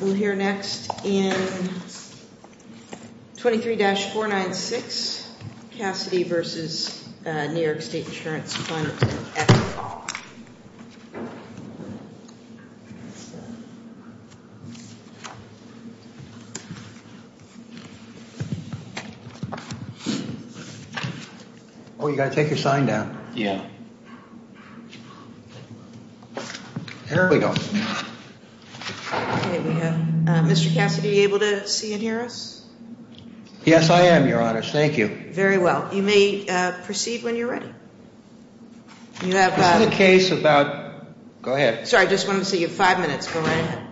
We'll hear next in 23-496 Cassidy v. New York State Insurance Fund Act. Oh, you got to take your sign down. Yeah. Here we go. Mr. Cassidy, are you able to see and hear us? Yes, I am, Your Honor. Thank you. Very well. You may proceed when you're ready. This is a case about... Go ahead. Sorry, I just wanted to see you. Five minutes. Go right ahead.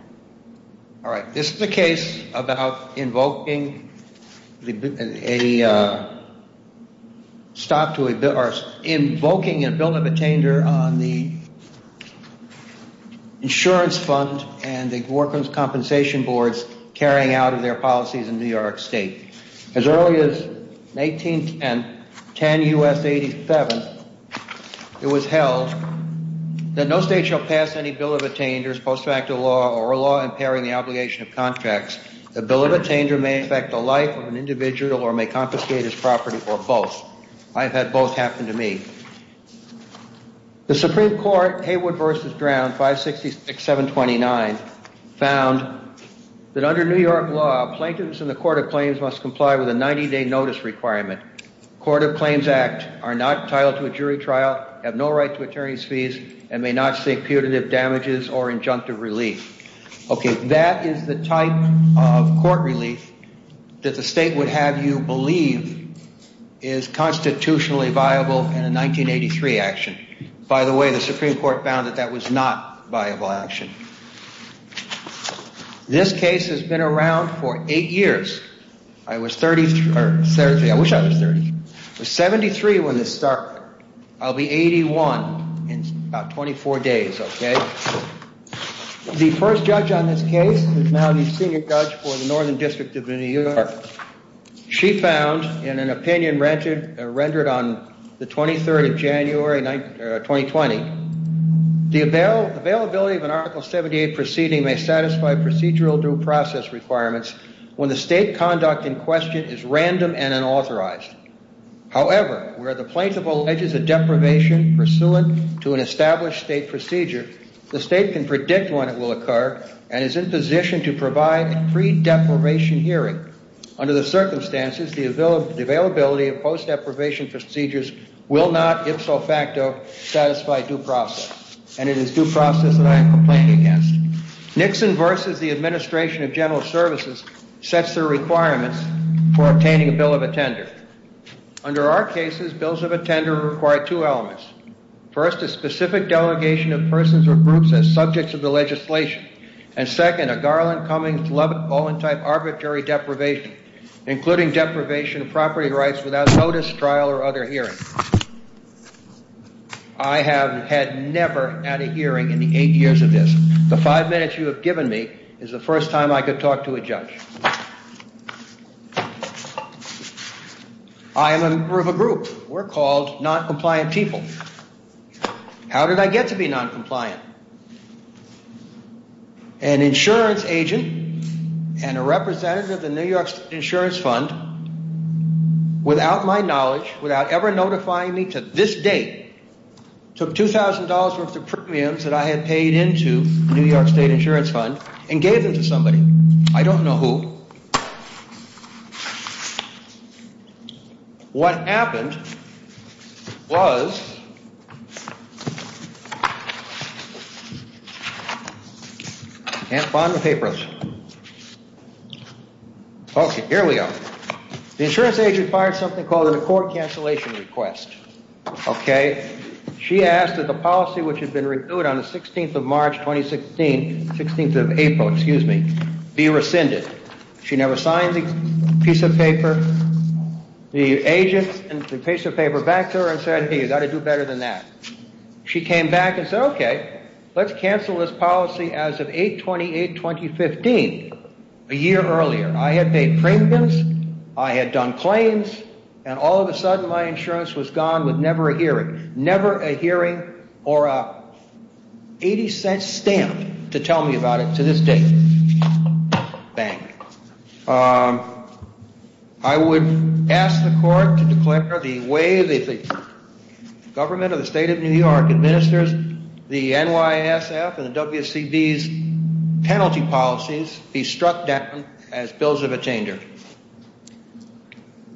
All right. This is a case about invoking a bill of attainder on the insurance fund and the workers' compensation boards carrying out of their policies in New York State. As early as 1810 U.S. 87, it was held that no state shall pass any bill of attainders, post facto law, or a law impairing the obligation of contracts. The bill of attainder may affect the life of an individual or may confiscate his property or both. I've had both happen to me. The Supreme Court, Haywood v. Brown, 566-729, found that under New York law, plaintiffs in the court of claims must comply with a 90-day notice requirement. Court of Claims Act are not entitled to a jury trial, have no right to attorney's fees, and may not seek putative damages or injunctive relief. Okay, that is the type of court relief that the state would have you believe is constitutionally viable in a 1983 action. By the way, the Supreme Court found that that was not viable action. This case has been around for eight years. I was 33... I wish I was 30. I was 73 when this started. I'll be 81 in about 24 days, okay? The first judge on this case is now the senior judge for the Northern District of New York. She found, in an opinion rendered on the 23rd of January, 2020, the availability of an Article 78 proceeding may satisfy procedural due process requirements when the state conduct in question is random and unauthorized. However, where the plaintiff alleges a deprivation pursuant to an established state procedure, the state can predict when it will occur and is in position to provide a pre-deprivation hearing. Under the circumstances, the availability of post-deprivation procedures will not, if so facto, satisfy due process. And it is due process that I am complaining against. Nixon versus the Administration of General Services sets their requirements for obtaining a bill of attender. Under our cases, bills of attender require two elements. First, a specific delegation of persons or groups as subjects of the legislation. And second, a Garland-Cummings-Lubbock-Bowen type arbitrary deprivation, including deprivation of property rights without notice, trial, or other hearing. I have had never had a hearing in the eight years of this. The five minutes you have given me is the first time I could talk to a judge. I am a member of a group. We're called noncompliant people. How did I get to be noncompliant? An insurance agent and a representative of the New York State Insurance Fund, without my knowledge, without ever notifying me to this date, took $2,000 worth of premiums that I had paid into the New York State Insurance Fund and gave them to somebody. I don't know who. What happened was... I can't find the papers. Okay, here we go. The insurance agent fired something called a court cancellation request. She asked that the policy which had been reviewed on the 16th of March 2016, 16th of April, excuse me, be rescinded. She never signed the piece of paper. The agent paced the paper back to her and said, hey, you've got to do better than that. She came back and said, okay, let's cancel this policy as of 8-28-2015, a year earlier. I had paid premiums, I had done claims, and all of a sudden my insurance was gone with never a hearing. Never a hearing or an 80-cent stamp to tell me about it to this date. Bang. I would ask the court to declare the way the government of the State of New York administers the NYSF and the WCB's penalty policies be struck down as bills of a changer.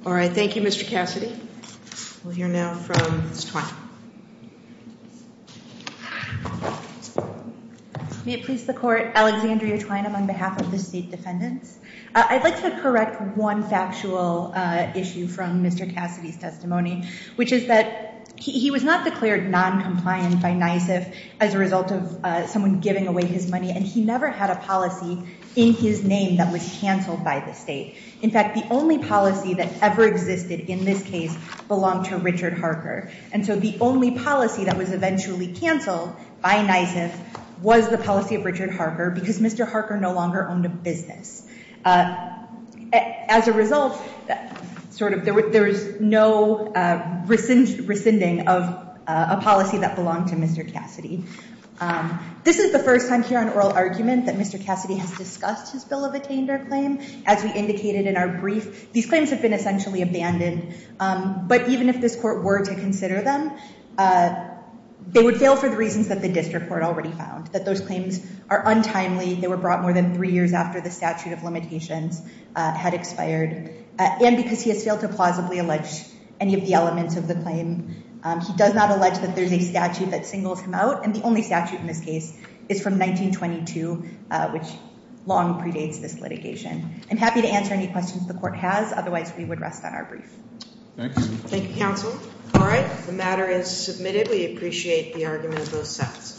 All right, thank you, Mr. Cassidy. May it please the court, Alexandria Twine on behalf of the state defendants. I'd like to correct one factual issue from Mr. Cassidy's testimony, which is that he was not declared noncompliant by NYSF as a result of someone giving away his money, and he never had a policy in his name that was canceled by the state. In fact, the only policy that ever existed in this case belonged to Richard Harker. And so the only policy that was eventually canceled by NYSF was the policy of Richard Harker because Mr. Harker no longer owned a business. As a result, there was no rescinding of a policy that belonged to Mr. Cassidy. This is the first time here on oral argument that Mr. Cassidy has discussed his bill of a changer claim. As we indicated in our brief, these claims have been essentially abandoned. But even if this court were to consider them, they would fail for the reasons that the district court already found, that those claims are untimely. They were brought more than three years after the statute of limitations had expired. And because he has failed to plausibly allege any of the elements of the claim, he does not allege that there's a statute that singles him out, and the only statute in this case is from 1922, which long predates this litigation. I'm happy to answer any questions the court has. Otherwise, we would rest on our brief. Thanks. Thank you, counsel. All right. The matter is submitted. We appreciate the argument of both sides.